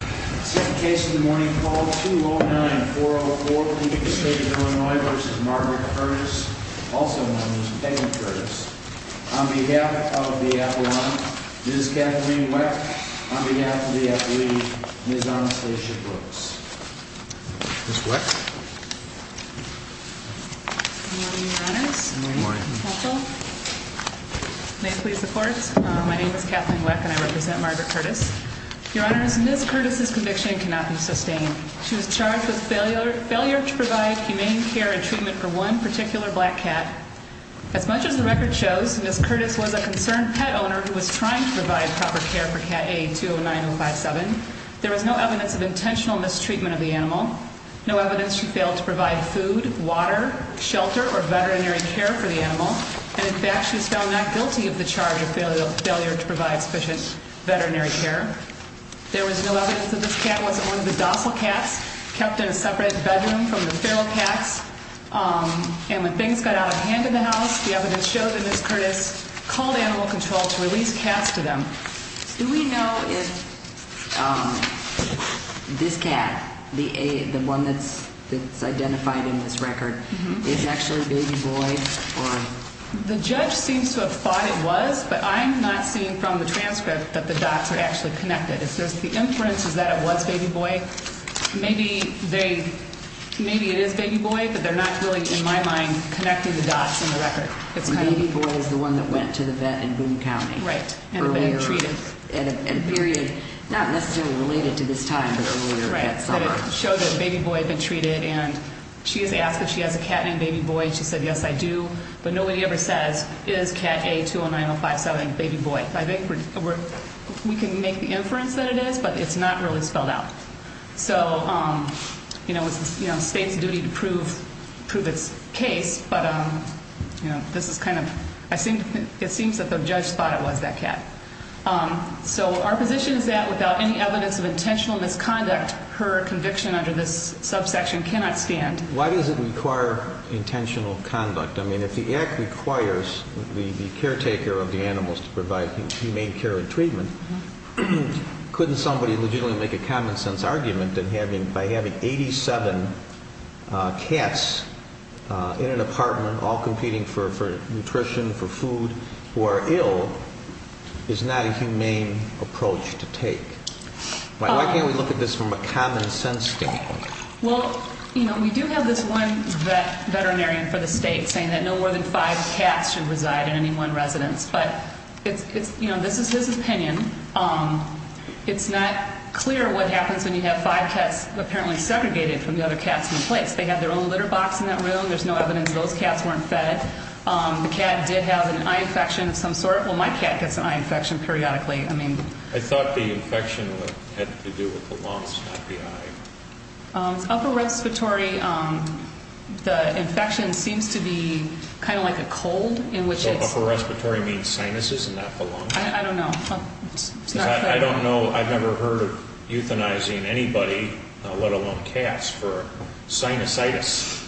On behalf of the athlete, Ms. Anastasia Brooks. Good morning, Your Honors. Good morning. May it please the Court, my name is Kathleen Weck and I represent Margaret Curtis. Your Honors, Ms. Curtis' conviction cannot be sustained. She was charged with failure to provide humane care and treatment for one particular black cat. As much as the record shows, Ms. Curtis was a concerned pet owner who was trying to provide proper care for cat A-209057. There was no evidence of intentional mistreatment of the animal. No evidence she failed to provide food, water, shelter, or veterinary care for the animal. And in fact, she was found not guilty of the charge of failure to provide sufficient veterinary care. There was no evidence that this cat wasn't one of the docile cats kept in a separate bedroom from the feral cats. And when things got out of hand in the house, the evidence showed that Ms. Curtis called animal control to release cats to them. Do we know if this cat, the one that's identified in this record, is actually Baby Boy? The judge seems to have thought it was, but I'm not seeing from the transcript that the dots are actually connected. If there's the inference that it was Baby Boy, maybe it is Baby Boy, but they're not really, in my mind, connecting the dots in the record. Baby Boy is the one that went to the vet in Boone County. Right, and had been treated. At a period not necessarily related to this time, but earlier. Right, but it showed that Baby Boy had been treated, and she has asked if she has a cat named Baby Boy. She said, yes, I do, but nobody ever says, is cat A-209057, Baby Boy? I think we can make the inference that it is, but it's not really spelled out. So, you know, it's the State's duty to prove its case, but this is kind of, it seems that the judge thought it was that cat. So our position is that without any evidence of intentional misconduct, her conviction under this subsection cannot stand. Why does it require intentional conduct? I mean, if the Act requires the caretaker of the animals to provide humane care and treatment, couldn't somebody legitimately make a common-sense argument that by having 87 cats in an apartment, all competing for nutrition, for food, who are ill, is not a humane approach to take? Why can't we look at this from a common-sense standpoint? Well, you know, we do have this one veterinarian for the State saying that no more than five cats should reside in any one residence. But, you know, this is his opinion. It's not clear what happens when you have five cats apparently segregated from the other cats in a place. They have their own litter box in that room. There's no evidence those cats weren't fed. The cat did have an eye infection of some sort. Well, my cat gets an eye infection periodically. I thought the infection had to do with the lungs, not the eye. Upper respiratory, the infection seems to be kind of like a cold. So upper respiratory means sinuses and not the lungs? I don't know. I don't know. I've never heard of euthanizing anybody, let alone cats, for sinusitis.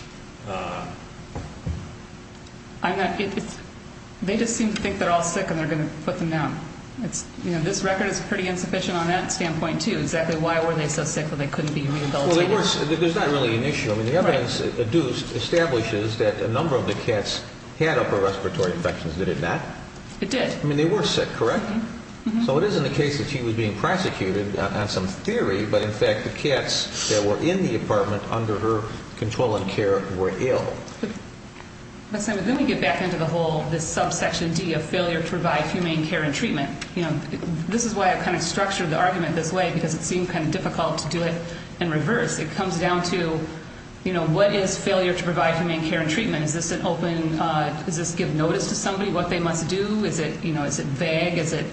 They just seem to think they're all sick and they're going to put them down. You know, this record is pretty insufficient on that standpoint, too. Exactly why were they so sick when they couldn't be rehabilitated? Well, there's not really an issue. I mean, the evidence established is that a number of the cats had upper respiratory infections. Did it not? It did. I mean, they were sick, correct? Mm-hmm. So it isn't the case that she was being prosecuted on some theory. But, in fact, the cats that were in the apartment under her control and care were ill. But, Sam, let me get back into the whole, this subsection D of failure to provide humane care and treatment. You know, this is why I kind of structured the argument this way, because it seemed kind of difficult to do it in reverse. It comes down to, you know, what is failure to provide humane care and treatment? Is this an open, does this give notice to somebody what they must do? Is it, you know, is it vague? Is it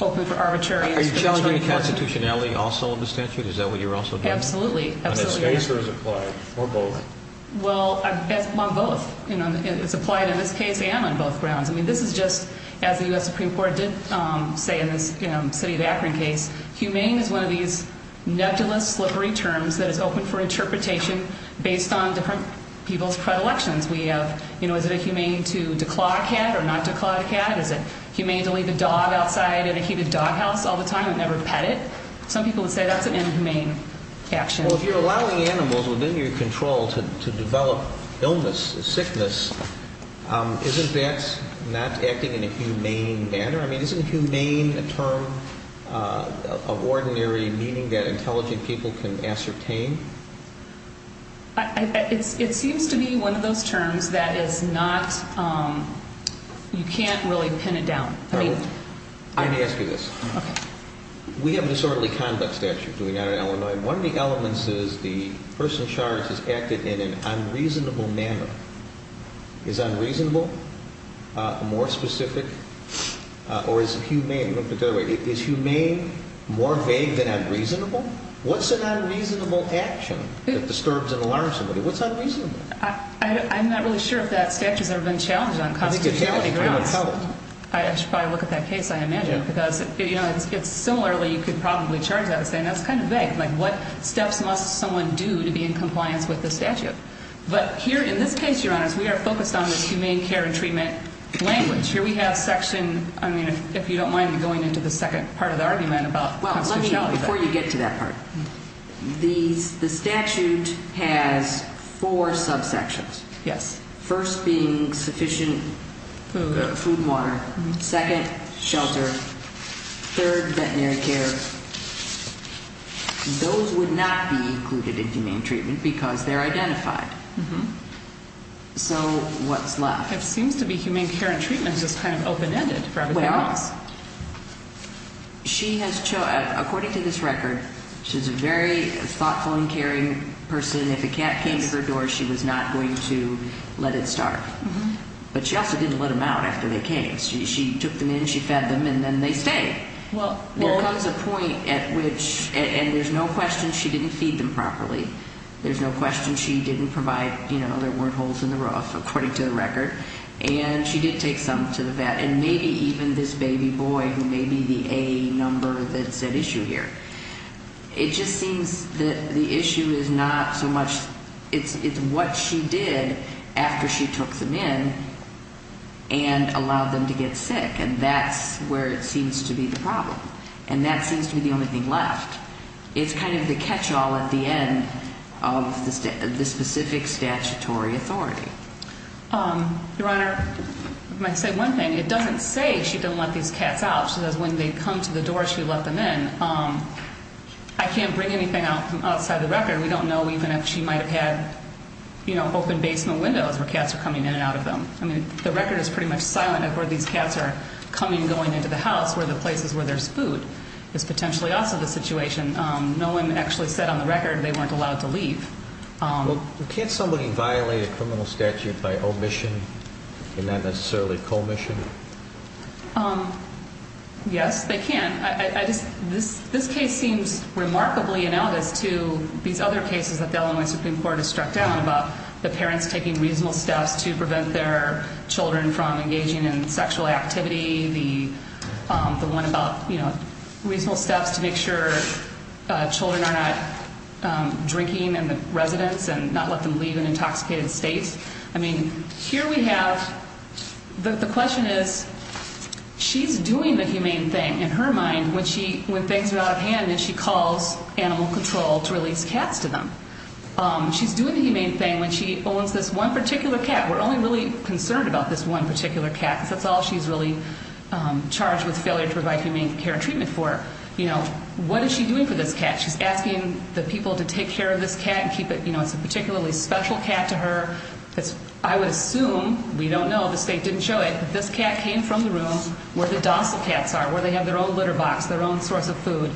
open for arbitrary interpretation? Are you challenging the constitutionality also in the statute? Is that what you're also doing? Absolutely. On this case or as applied? Or both? Well, on both. It's applied in this case and on both grounds. I mean, this is just, as the U.S. Supreme Court did say in this city of Akron case, humane is one of these nebulous, slippery terms that is open for interpretation based on different people's predilections. We have, you know, is it humane to declaw a cat or not declaw a cat? Is it humane to leave a dog outside in a heated dog house all the time and never pet it? Some people would say that's an inhumane action. Well, if you're allowing animals within your control to develop illness, sickness, isn't that not acting in a humane manner? I mean, isn't humane a term of ordinary meaning that intelligent people can ascertain? It seems to be one of those terms that is not, you can't really pin it down. Let me ask you this. Okay. We have a disorderly conduct statute going on in Illinois. One of the elements is the person charged has acted in an unreasonable manner. Is unreasonable more specific or is humane more vague than unreasonable? What's an unreasonable action that disturbs and alarms somebody? What's unreasonable? I'm not really sure if that statute has ever been challenged on constitutionality grounds. I should probably look at that case. I imagine because, you know, similarly you could probably charge that and say that's kind of vague. Like what steps must someone do to be in compliance with the statute? But here in this case, Your Honors, we are focused on this humane care and treatment language. Here we have section, I mean, if you don't mind me going into the second part of the argument about constitutionality. Well, let me, before you get to that part, the statute has four subsections. Yes. First being sufficient food and water. Second, shelter. Third, veterinary care. Those would not be included in humane treatment because they're identified. So what's left? It seems to be humane care and treatment is just kind of open-ended for everything else. She has, according to this record, she's a very thoughtful and caring person. If a cat came to her door, she was not going to let it starve. But she also didn't let them out after they came. She took them in, she fed them, and then they stayed. There comes a point at which, and there's no question she didn't feed them properly. There's no question she didn't provide, you know, there weren't holes in the roof, according to the record. And she did take some to the vet. And maybe even this baby boy who may be the A number that's at issue here. It just seems that the issue is not so much it's what she did after she took them in and allowed them to get sick. And that's where it seems to be the problem. And that seems to be the only thing left. It's kind of the catch-all at the end of the specific statutory authority. Your Honor, I might say one thing. It doesn't say she didn't let these cats out. She says when they come to the door, she let them in. I can't bring anything outside the record. We don't know even if she might have had, you know, open basement windows where cats are coming in and out of them. I mean, the record is pretty much silent of where these cats are coming and going into the house, where the places where there's food is potentially also the situation. No one actually said on the record they weren't allowed to leave. Well, can't somebody violate a criminal statute by omission and not necessarily commission? Yes, they can. This case seems remarkably analogous to these other cases that the Illinois Supreme Court has struck down about the parents taking reasonable steps to prevent their children from engaging in sexual activity, the one about, you know, reasonable steps to make sure children are not drinking in the residence and not let them leave in intoxicated states. I mean, here we have the question is she's doing the humane thing in her mind when things are out of hand and she calls animal control to release cats to them. She's doing the humane thing when she owns this one particular cat. We're only really concerned about this one particular cat because that's all she's really charged with failure to provide humane care and treatment for. You know, what is she doing for this cat? She's asking the people to take care of this cat and keep it, you know, it's a particularly special cat to her. I would assume, we don't know, the state didn't show it, but this cat came from the room where the docile cats are, where they have their own litter box, their own source of food.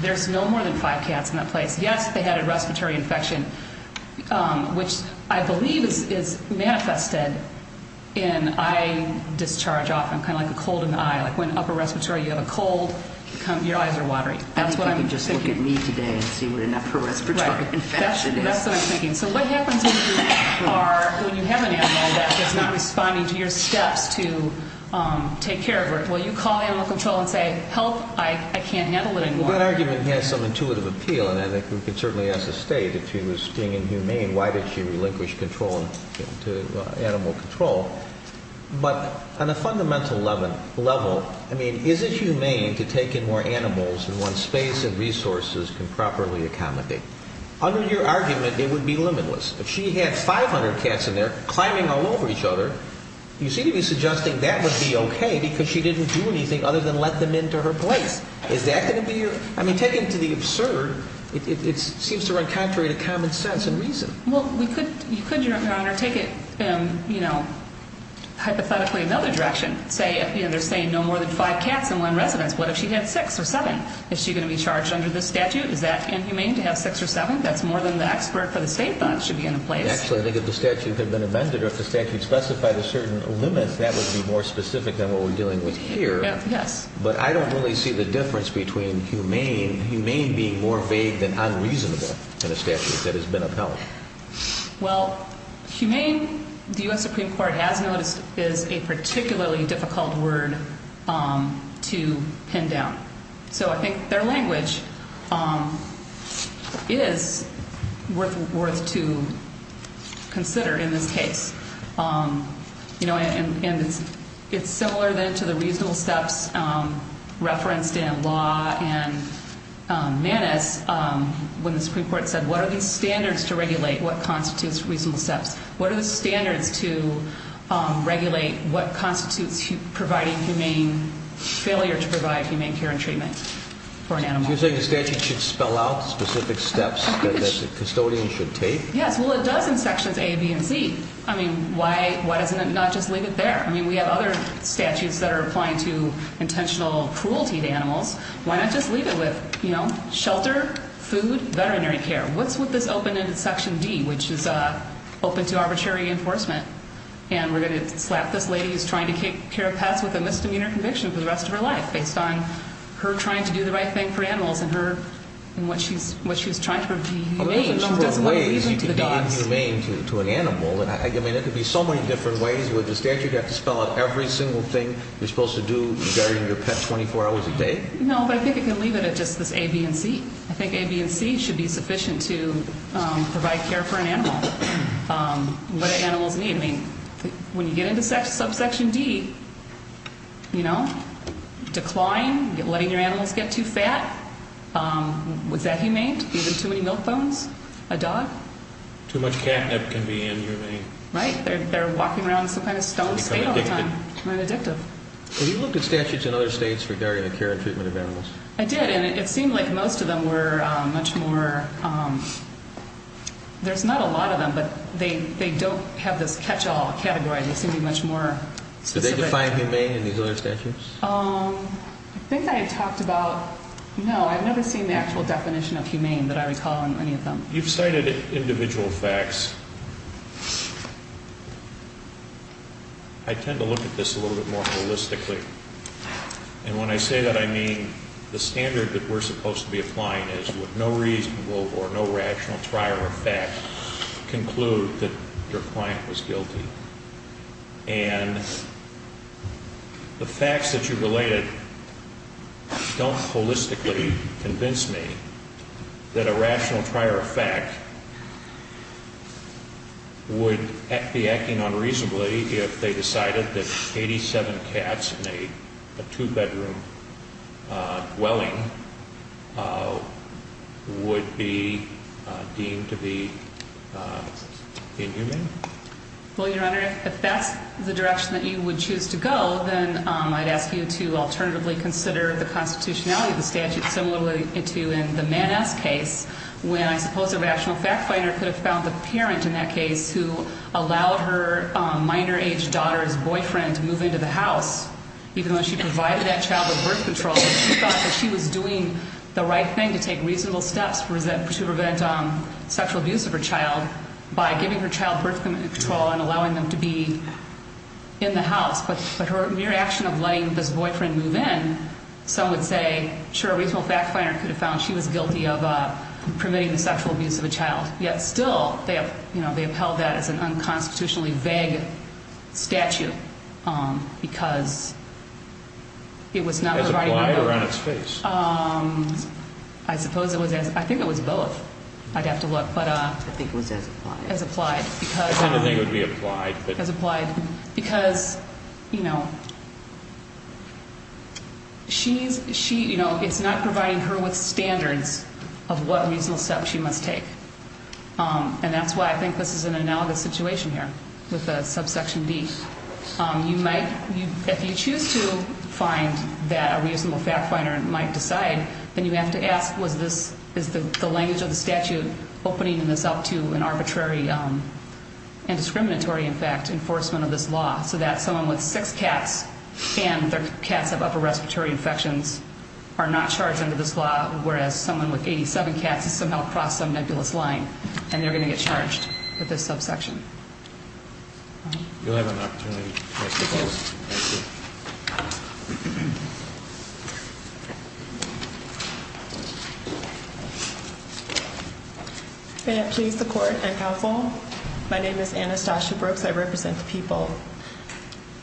There's no more than five cats in that place. Yes, they had a respiratory infection, which I believe is manifested in eye discharge often, kind of like a cold in the eye, like when upper respiratory you have a cold, your eyes are watery. I think you can just look at me today and see what an upper respiratory infection is. Right, that's what I'm thinking. So what happens when you have an animal that's not responding to your steps to take care of her, well, you call animal control and say, help, I can't handle it anymore. Well, that argument has some intuitive appeal, and I think we can certainly ask the state, if she was being inhumane, why did she relinquish control to animal control? But on a fundamental level, I mean, is it humane to take in more animals when space and resources can properly accommodate? Under your argument, it would be limitless. If she had 500 cats in there climbing all over each other, you seem to be suggesting that would be okay because she didn't do anything other than let them into her place. Is that going to be your – I mean, taken to the absurd, it seems to run contrary to common sense and reason. Well, we could – you could, Your Honor, take it, you know, hypothetically another direction. Say, you know, they're saying no more than five cats in one residence. What if she had six or seven? Is she going to be charged under this statute? Is that inhumane to have six or seven? That's more than the expert for the state thought should be in place. Actually, I think if the statute had been amended or if the statute specified a certain limit, that would be more specific than what we're dealing with here. Yes. But I don't really see the difference between humane, humane being more vague than unreasonable in a statute that has been upheld. Well, humane, the U.S. Supreme Court has noticed, is a particularly difficult word to pin down. So I think their language is worth to consider in this case. You know, and it's similar then to the reasonable steps referenced in Law and Manus when the Supreme Court said, what are these standards to regulate? What constitutes reasonable steps? What are the standards to regulate what constitutes providing humane – failure to provide humane care and treatment for an animal? So you're saying the statute should spell out specific steps that the custodian should take? Yes. Well, it does in Sections A, B, and C. I mean, why doesn't it not just leave it there? I mean, we have other statutes that are applying to intentional cruelty to animals. Why not just leave it with, you know, shelter, food, veterinary care? What's with this open-ended Section D, which is open to arbitrary enforcement? And we're going to slap this lady who's trying to take care of pets with a misdemeanor conviction for the rest of her life based on her trying to do the right thing for animals and what she was trying to reveal. I mean, there's a number of ways you can be inhumane to an animal. I mean, there could be so many different ways. With the statute, you have to spell out every single thing you're supposed to do regarding your pet 24 hours a day? No, but I think it can leave it at just this A, B, and C. I think A, B, and C should be sufficient to provide care for an animal. What do animals need? I mean, when you get into Subsection D, you know, decline, letting your animals get too fat, was that humane? Too many milk bones? A dog? Too much catnip can be inhumane. Right. They're walking around in some kind of stone state all the time. And addictive. Have you looked at statutes in other states regarding the care and treatment of animals? I did, and it seemed like most of them were much more, there's not a lot of them, but they don't have this catch-all category. They seem to be much more specific. Do they define humane in these other statutes? I think I had talked about, no, I've never seen the actual definition of humane that I recall in any of them. You've cited individual facts. I tend to look at this a little bit more holistically. And when I say that, I mean the standard that we're supposed to be applying is with no reasonable or no rational prior effect conclude that your client was guilty. And the facts that you related don't holistically convince me that a rational prior effect would be acting unreasonably if they decided that 87 cats in a two-bedroom dwelling would be deemed to be inhumane. Well, Your Honor, if that's the direction that you would choose to go, then I'd ask you to alternatively consider the constitutionality of the statute, similar to in the Mann S case, when I suppose a rational fact finder could have found the parent in that case who allowed her minor-aged daughter's boyfriend to move into the house, even though she provided that child with birth control, and she thought that she was doing the right thing to take reasonable steps to prevent sexual abuse of her child by giving her child birth control and allowing them to be in the house. But her mere action of letting this boyfriend move in, some would say, sure, a reasonable fact finder could have found she was guilty of permitting the sexual abuse of a child. Yet still, they have held that as an unconstitutionally vague statute because it was not provided by law. As a plier on its face. I suppose it was as – I think it was both. I'd have to look. I think it was as applied. As applied. I kind of think it would be applied. As applied. Because, you know, it's not providing her with standards of what reasonable steps she must take. And that's why I think this is an analogous situation here with the subsection D. If you choose to find that a reasonable fact finder might decide, then you have to ask was this – is the language of the statute opening this up to an arbitrary and discriminatory, in fact, enforcement of this law so that someone with six cats and their cats have upper respiratory infections are not charged under this law, whereas someone with 87 cats has somehow crossed some nebulous line and they're going to get charged with this subsection. You'll have an opportunity. Thank you. May it please the court and counsel, my name is Anastasia Brooks. I represent the people.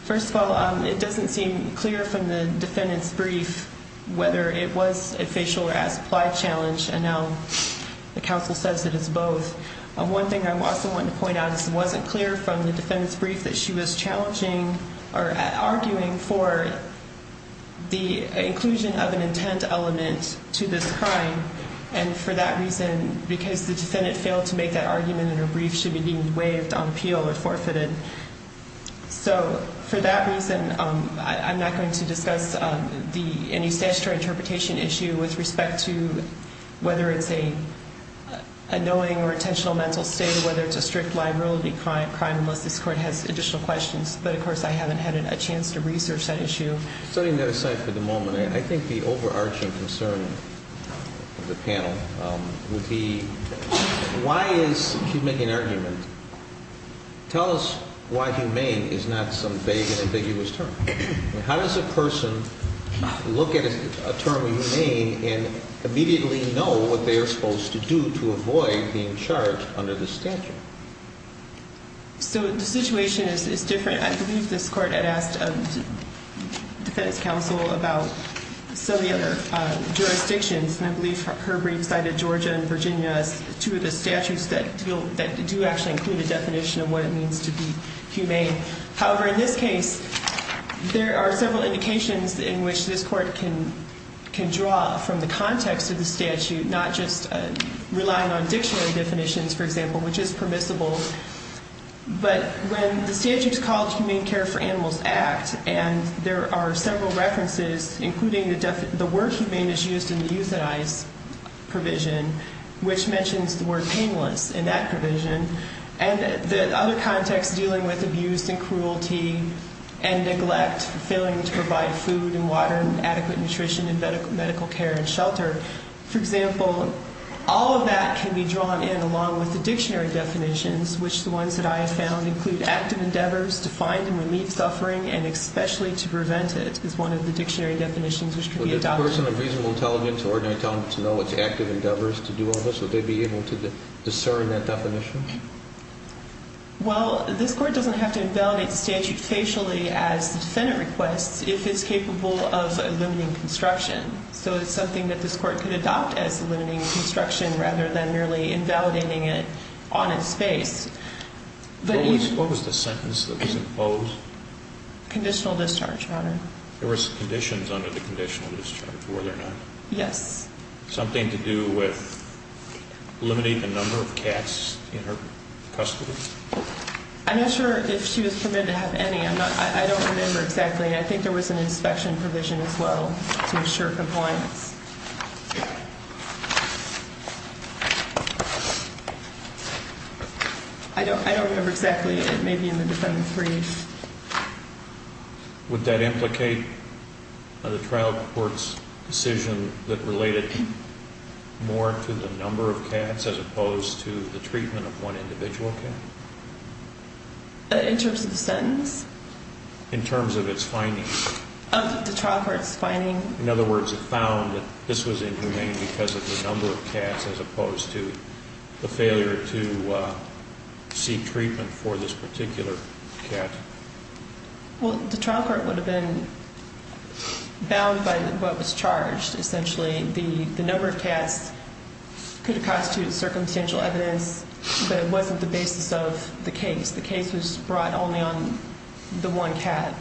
First of all, it doesn't seem clear from the defendant's brief whether it was a facial or as applied challenge, and now the counsel says that it's both. One thing I also want to point out is it wasn't clear from the defendant's brief that she was challenging or arguing for the inclusion of an intent element to this crime, and for that reason because the defendant failed to make that argument in her brief should be deemed waived on appeal or forfeited. So for that reason, I'm not going to discuss any statutory interpretation issue with respect to whether it's a knowing or intentional mental state or whether it's a strict liability crime unless this court has additional questions. But, of course, I haven't had a chance to research that issue. Setting that aside for the moment, I think the overarching concern of the panel would be why is she making an argument? Tell us why humane is not some vague and ambiguous term. How does a person look at a term humane and immediately know what they are supposed to do to avoid being charged under the statute? So the situation is different. I believe this court had asked a defense counsel about some of the other jurisdictions, and I believe her brief cited Georgia and Virginia as two of the statutes that do actually include a definition of what it means to be humane. However, in this case, there are several indications in which this court can draw from the context of the statute, not just relying on dictionary definitions, for example, which is permissible. But when the statute is called Humane Care for Animals Act, and there are several references, including the word humane is used in the euthanize provision, which mentions the word painless in that provision, and the other context dealing with abuse and cruelty and neglect, failing to provide food and water and adequate nutrition and medical care and shelter. For example, all of that can be drawn in along with the dictionary definitions, which the ones that I have found include active endeavors to find and relieve suffering, and especially to prevent it is one of the dictionary definitions which can be adopted. If a person of reasonable intelligence or ordinary intelligence knew what the active endeavor is to do on this, would they be able to discern that definition? Well, this court doesn't have to invalidate the statute facially as the defendant requests if it's capable of eliminating construction. So it's something that this court could adopt as eliminating construction rather than merely invalidating it on its face. What was the sentence that was imposed? Conditional discharge, Your Honor. There was conditions under the conditional discharge, were there not? Yes. Something to do with eliminating the number of cats in her custody? I'm not sure if she was permitted to have any. I don't remember exactly, and I think there was an inspection provision as well to ensure compliance. I don't remember exactly. It may be in the defendant's brief. Would that implicate the trial court's decision that related more to the number of cats as opposed to the treatment of one individual cat? In terms of the sentence? In terms of its findings. Of the trial court's findings. In other words, it found that this was inhumane because of the number of cats as opposed to the failure to seek treatment for this particular cat. Well, the trial court would have been bound by what was charged. Essentially, the number of cats could have constituted circumstantial evidence, but it wasn't the basis of the case. The case was brought only on the one cat.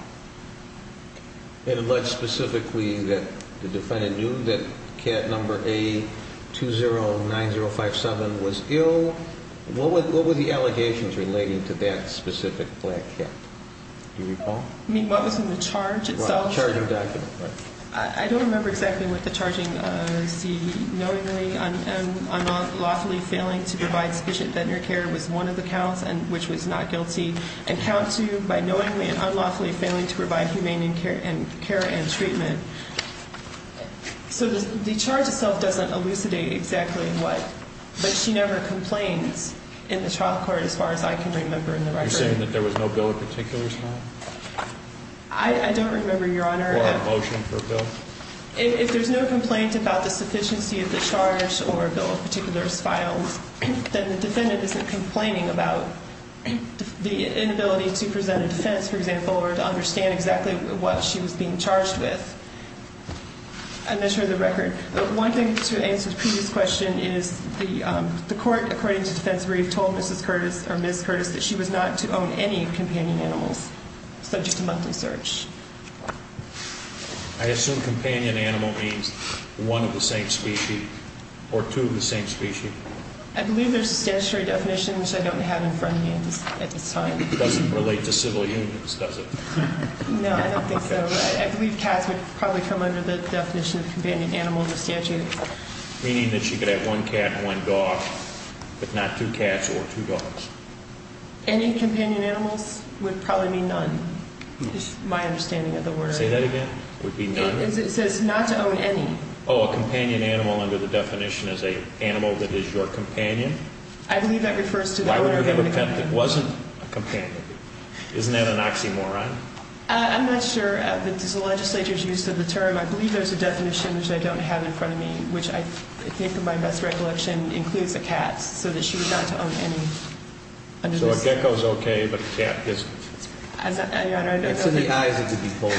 And unless specifically the defendant knew that cat number A209057 was ill, what were the allegations relating to that specific black cat? Do you recall? You mean what was in the charge itself? The charging document. I don't remember exactly what the charging was. The knowingly and unlawfully failing to provide sufficient veterinary care was one of the counts, which was not guilty. And count two, by knowingly and unlawfully failing to provide humane care and treatment. So the charge itself doesn't elucidate exactly what, but she never complains in the trial court as far as I can remember in the record. You're saying that there was no bill of particulars filed? I don't remember, Your Honor. Or a motion for a bill? If there's no complaint about the sufficiency of the charge or a bill of particulars filed, then the defendant isn't complaining about the inability to present a defense, for example, or to understand exactly what she was being charged with. I measure the record. One thing to answer the previous question is the court, according to Defense Brief, told Mrs. Curtis or Ms. Curtis that she was not to own any companion animals subject to monthly search. I assume companion animal means one of the same species or two of the same species. I believe there's a statutory definition, which I don't have in front of me at this time. It doesn't relate to civil unions, does it? No, I don't think so. I believe cats would probably come under the definition of companion animal in the statute. Meaning that she could have one cat and one dog, but not two cats or two dogs. Any companion animals would probably mean none, is my understanding of the word. Say that again? Would it be none? It says not to own any. Oh, a companion animal under the definition is an animal that is your companion? I believe that refers to the owner of the pet. Why would you have a pet that wasn't a companion? Isn't that an oxymoron? I'm not sure, but there's a legislature's use of the term. I believe there's a definition, which I don't have in front of me, which I think in my best recollection includes a cat, so that she was not to own any under the statute. So a gecko is okay, but a cat isn't? Your Honor, I don't know. It's in the eyes of the beholder.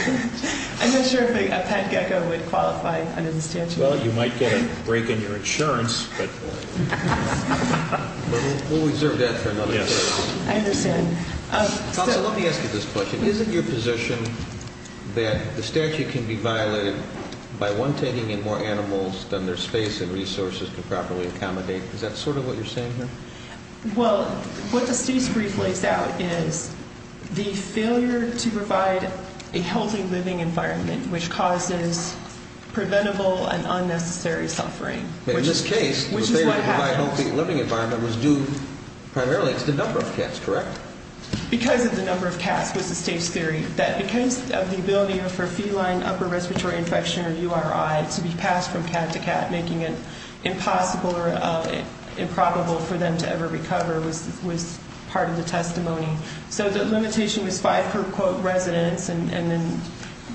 I'm not sure if a pet gecko would qualify under the statute. Well, you might get a break in your insurance, but... We'll reserve that for another case. I understand. Counsel, let me ask you this question. Isn't your position that the statute can be violated by one taking in more animals than their space and resources can properly accommodate? Is that sort of what you're saying here? Well, what the state's brief lays out is the failure to provide a healthy living environment which causes preventable and unnecessary suffering. In this case, the failure to provide a healthy living environment was due primarily to the number of cats, correct? Because of the number of cats was the state's theory. That because of the ability for feline upper respiratory infection, or URI, to be passed from cat to cat, making it impossible or improbable for them to ever recover was part of the testimony. So the limitation was five per quote residence, and then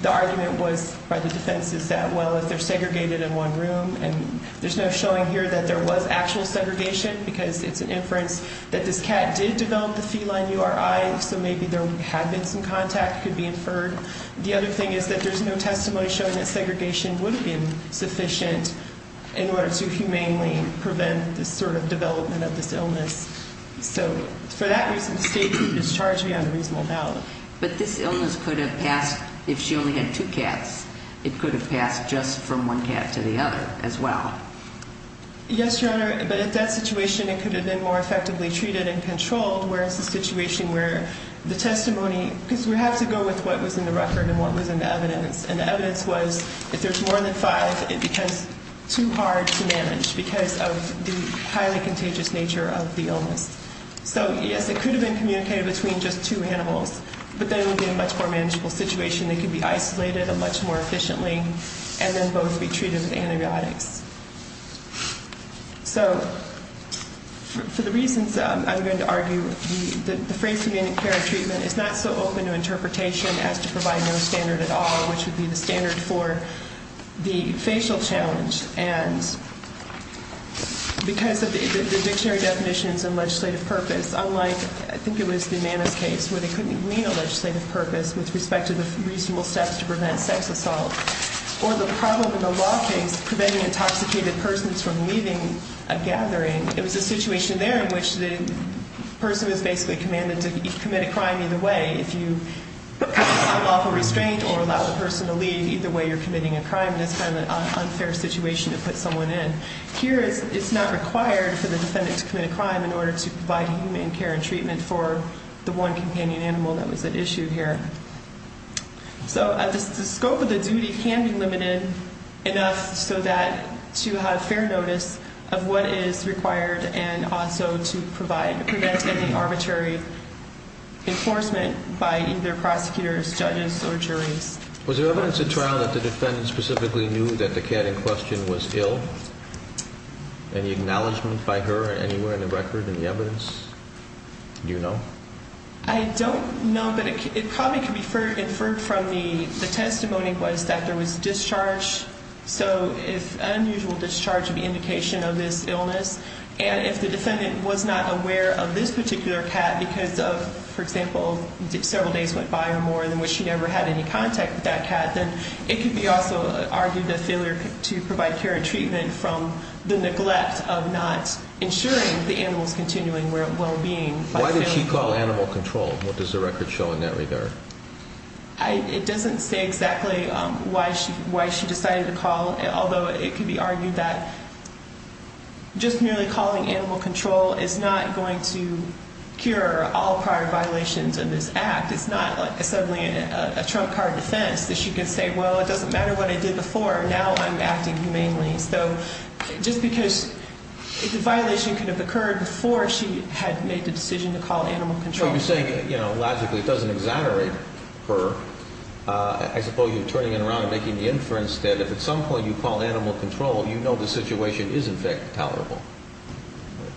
the argument was by the defense is that, well, if they're segregated in one room, and there's no showing here that there was actual segregation because it's an inference that this cat did develop the feline URI, so maybe there had been some contact, could be inferred. The other thing is that there's no testimony showing that segregation would have been sufficient in order to humanely prevent this sort of development of this illness. So for that reason, the statute is charged beyond reasonable doubt. But this illness could have passed if she only had two cats. It could have passed just from one cat to the other as well. Yes, Your Honor, but if that situation, it could have been more effectively treated and controlled, whereas the situation where the testimony, because we have to go with what was in the record and what was in the evidence, and the evidence was if there's more than five, it becomes too hard to manage because of the highly contagious nature of the illness. So, yes, it could have been communicated between just two animals, but then it would be a much more manageable situation. They could be isolated much more efficiently and then both be treated with antibiotics. So for the reasons I'm going to argue, the phrase humanic care and treatment is not so open to interpretation as to provide no standard at all, which would be the standard for the facial challenge. And because of the dictionary definitions and legislative purpose, unlike, I think it was the Manus case, where they couldn't meet a legislative purpose with respect to the reasonable steps to prevent sex assault, or the problem in the law case preventing intoxicated persons from leaving a gathering, it was a situation there in which the person was basically commanded to commit a crime either way. If you have unlawful restraint or allow the person to leave, either way you're committing a crime. And it's kind of an unfair situation to put someone in. Here it's not required for the defendant to commit a crime in order to provide human care and treatment for the one companion animal that was at issue here. So the scope of the duty can be limited enough so that to have fair notice of what is required and also to prevent any arbitrary enforcement by either prosecutors, judges, or juries. Was there evidence at trial that the defendant specifically knew that the cat in question was ill? Any acknowledgment by her anywhere in the record in the evidence? Do you know? I don't know, but it probably could be inferred from the testimony was that there was discharge. So if unusual discharge would be an indication of this illness, and if the defendant was not aware of this particular cat because of, for example, several days went by or more in which she never had any contact with that cat, then it could be also argued a failure to provide care and treatment from the neglect of not ensuring the animal's continuing well-being. Why did she call animal control? What does the record show in that regard? It doesn't say exactly why she decided to call, although it could be argued that just merely calling animal control is not going to cure all prior violations in this act. It's not like assembling a trump card defense that she can say, well, it doesn't matter what I did before. Now I'm acting humanely. So just because the violation could have occurred before she had made the decision to call animal control. You're saying, you know, logically it doesn't exonerate her. I suppose you're turning it around and making the inference that if at some point you call animal control, you know the situation is in fact tolerable,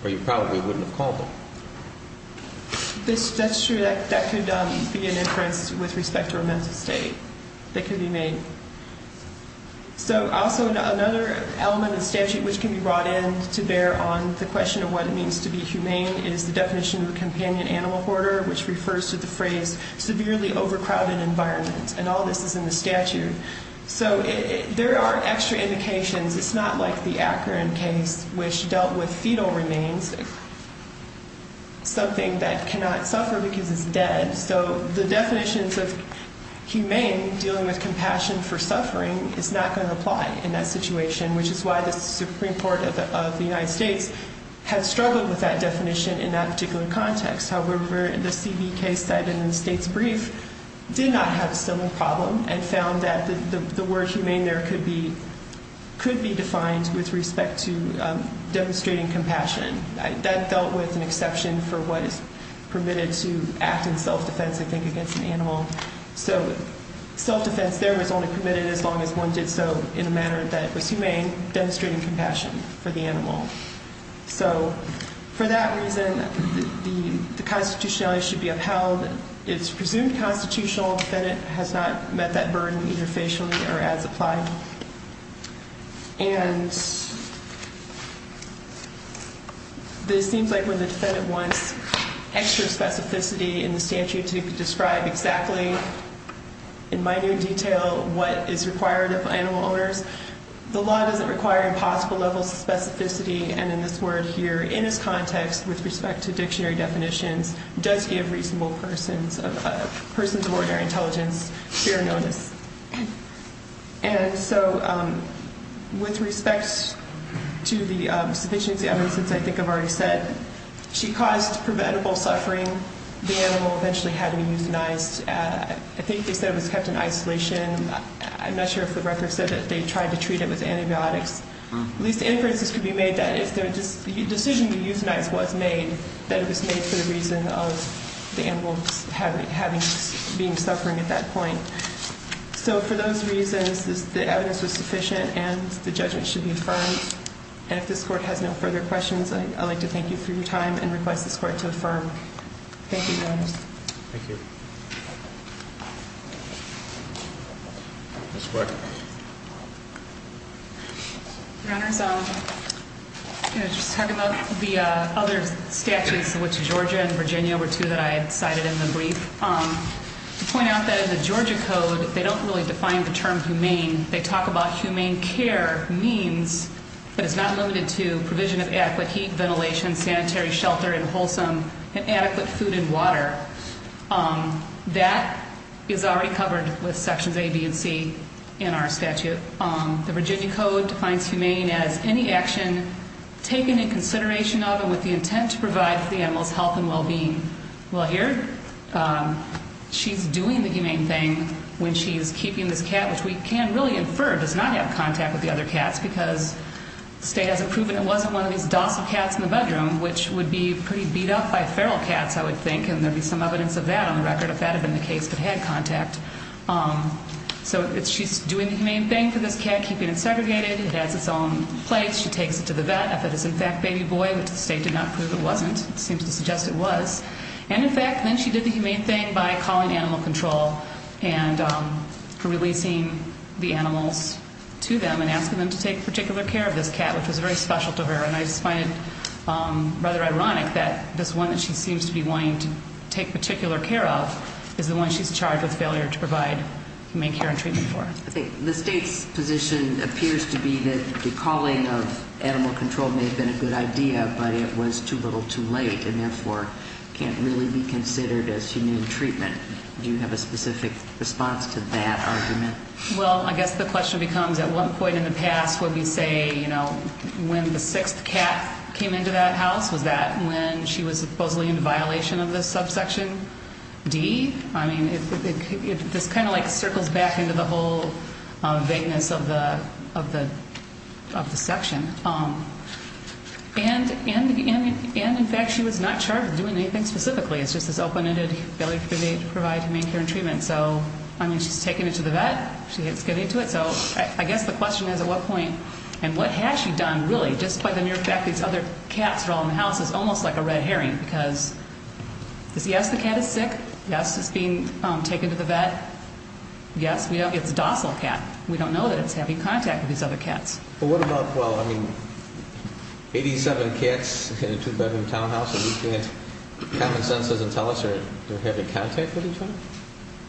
or you probably wouldn't have called them. That's true. That could be an inference with respect to her mental state that could be made. So also another element of the statute which can be brought in to bear on the question of what it means to be humane is the definition of a companion animal hoarder, which refers to the phrase severely overcrowded environment, and all this is in the statute. So there are extra indications. It's not like the Akron case which dealt with fetal remains, something that cannot suffer because it's dead. So the definitions of humane, dealing with compassion for suffering, is not going to apply in that situation, which is why the Supreme Court of the United States has struggled with that definition in that particular context. However, the CB case cited in the state's brief did not have a similar problem and found that the word humane there could be defined with respect to demonstrating compassion. That dealt with an exception for what is permitted to act in self-defense, I think, against an animal. So self-defense there was only permitted as long as one did so in a manner that was humane, demonstrating compassion for the animal. So for that reason, the constitutionality should be upheld. It's presumed constitutional. The defendant has not met that burden either facially or as applied. And this seems like when the defendant wants extra specificity in the statute to describe exactly in minor detail what is required of animal owners. The law doesn't require impossible levels of specificity. And in this word here, in this context, with respect to dictionary definitions, does give reasonable persons of ordinary intelligence fair notice. And so with respect to the sufficient evidence, as I think I've already said, she caused preventable suffering. The animal eventually had to be euthanized. I think they said it was kept in isolation. I'm not sure if the record said that they tried to treat it with antibiotics. At least inferences could be made that if the decision to euthanize was made, that it was made for the reason of the animal being suffering at that point. So for those reasons, the evidence was sufficient and the judgment should be affirmed. And if this Court has no further questions, I'd like to thank you for your time and request this Court to affirm. Thank you, Your Honor. Thank you. Ms. Quirk. Your Honor, I was just talking about the other statutes, which Georgia and Virginia were two that I had cited in the brief. To point out that in the Georgia Code, they don't really define the term humane. They talk about humane care means that it's not limited to provision of adequate heat, ventilation, sanitary, shelter, and wholesome, and adequate food and water. That is already covered with Sections A, B, and C in our statute. The Virginia Code defines humane as any action taken in consideration of and with the intent to provide the animal's health and well-being. Well, here, she's doing the humane thing when she's keeping this cat, which we can really infer does not have contact with the other cats because the state hasn't proven it wasn't one of these docile cats in the bedroom, which would be pretty beat up by feral cats, I would think, and there would be some evidence of that on the record if that had been the case, if it had contact. So she's doing the humane thing for this cat, keeping it segregated. It has its own place. She takes it to the vet. If it is, in fact, baby boy, which the state did not prove it wasn't. It seems to suggest it was. And, in fact, then she did the humane thing by calling animal control and releasing the animals to them and asking them to take particular care of this cat, which was very special to her. And I just find it rather ironic that this one that she seems to be wanting to take particular care of is the one she's charged with failure to provide humane care and treatment for. The state's position appears to be that the calling of animal control may have been a good idea, but it was too little too late and, therefore, can't really be considered as humane treatment. Do you have a specific response to that argument? Well, I guess the question becomes, at one point in the past, would we say when the sixth cat came into that house was that when she was supposedly in violation of this subsection D? I mean, this kind of, like, circles back into the whole vagueness of the section. And, in fact, she was not charged with doing anything specifically. It's just this open-ended failure to provide humane care and treatment. So, I mean, she's taking it to the vet. She's getting to it. So I guess the question is, at what point, and what has she done, really, just by the mere fact these other cats are all in the house, is almost like a red herring because, yes, the cat is sick. Yes, it's being taken to the vet. Yes, it's a docile cat. We don't know that it's having contact with these other cats. But what about, well, I mean, 87 cats in a two-bedroom townhouse, and you can't, common sense doesn't tell us they're having contact with each other?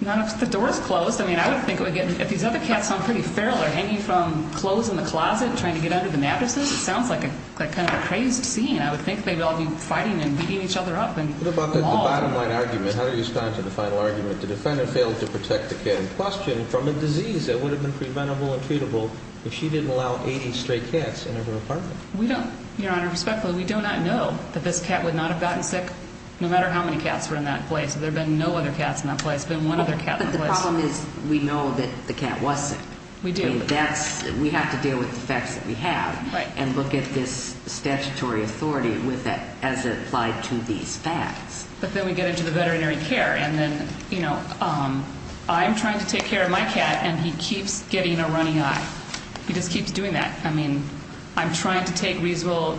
Not if the door is closed. I mean, I would think it would get, if these other cats sound pretty feral, they're hanging from clothes in the closet and trying to get under the mattresses, it sounds like kind of a crazed scene. I would think they'd all be fighting and beating each other up. What about the bottom-line argument? How do you respond to the final argument? The defender failed to protect the cat in question from a disease that would have been preventable and treatable if she didn't allow 80 stray cats into her apartment. We don't, Your Honor, respectfully, we do not know that this cat would not have gotten sick, no matter how many cats were in that place. There have been no other cats in that place. There's been one other cat in the place. But the problem is we know that the cat was sick. We do. And that's, we have to deal with the facts that we have and look at this statutory authority as it applied to these facts. But then we get into the veterinary care, and then, you know, I'm trying to take care of my cat, and he keeps getting a runny eye. He just keeps doing that. I mean, I'm trying to take reasonable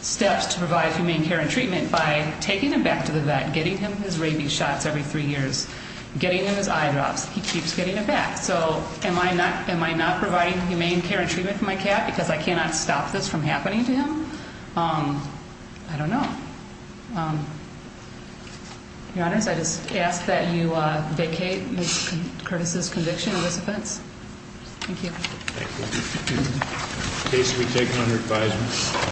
steps to provide humane care and treatment by taking him back to the vet, getting him his rabies shots every three years, getting him his eye drops. He keeps getting them back. So am I not providing humane care and treatment for my cat because I cannot stop this from happening to him? I don't know. Your Honor, I just ask that you vacate Curtis's conviction of this offense. Thank you. Thank you. The case will be taken under advisement.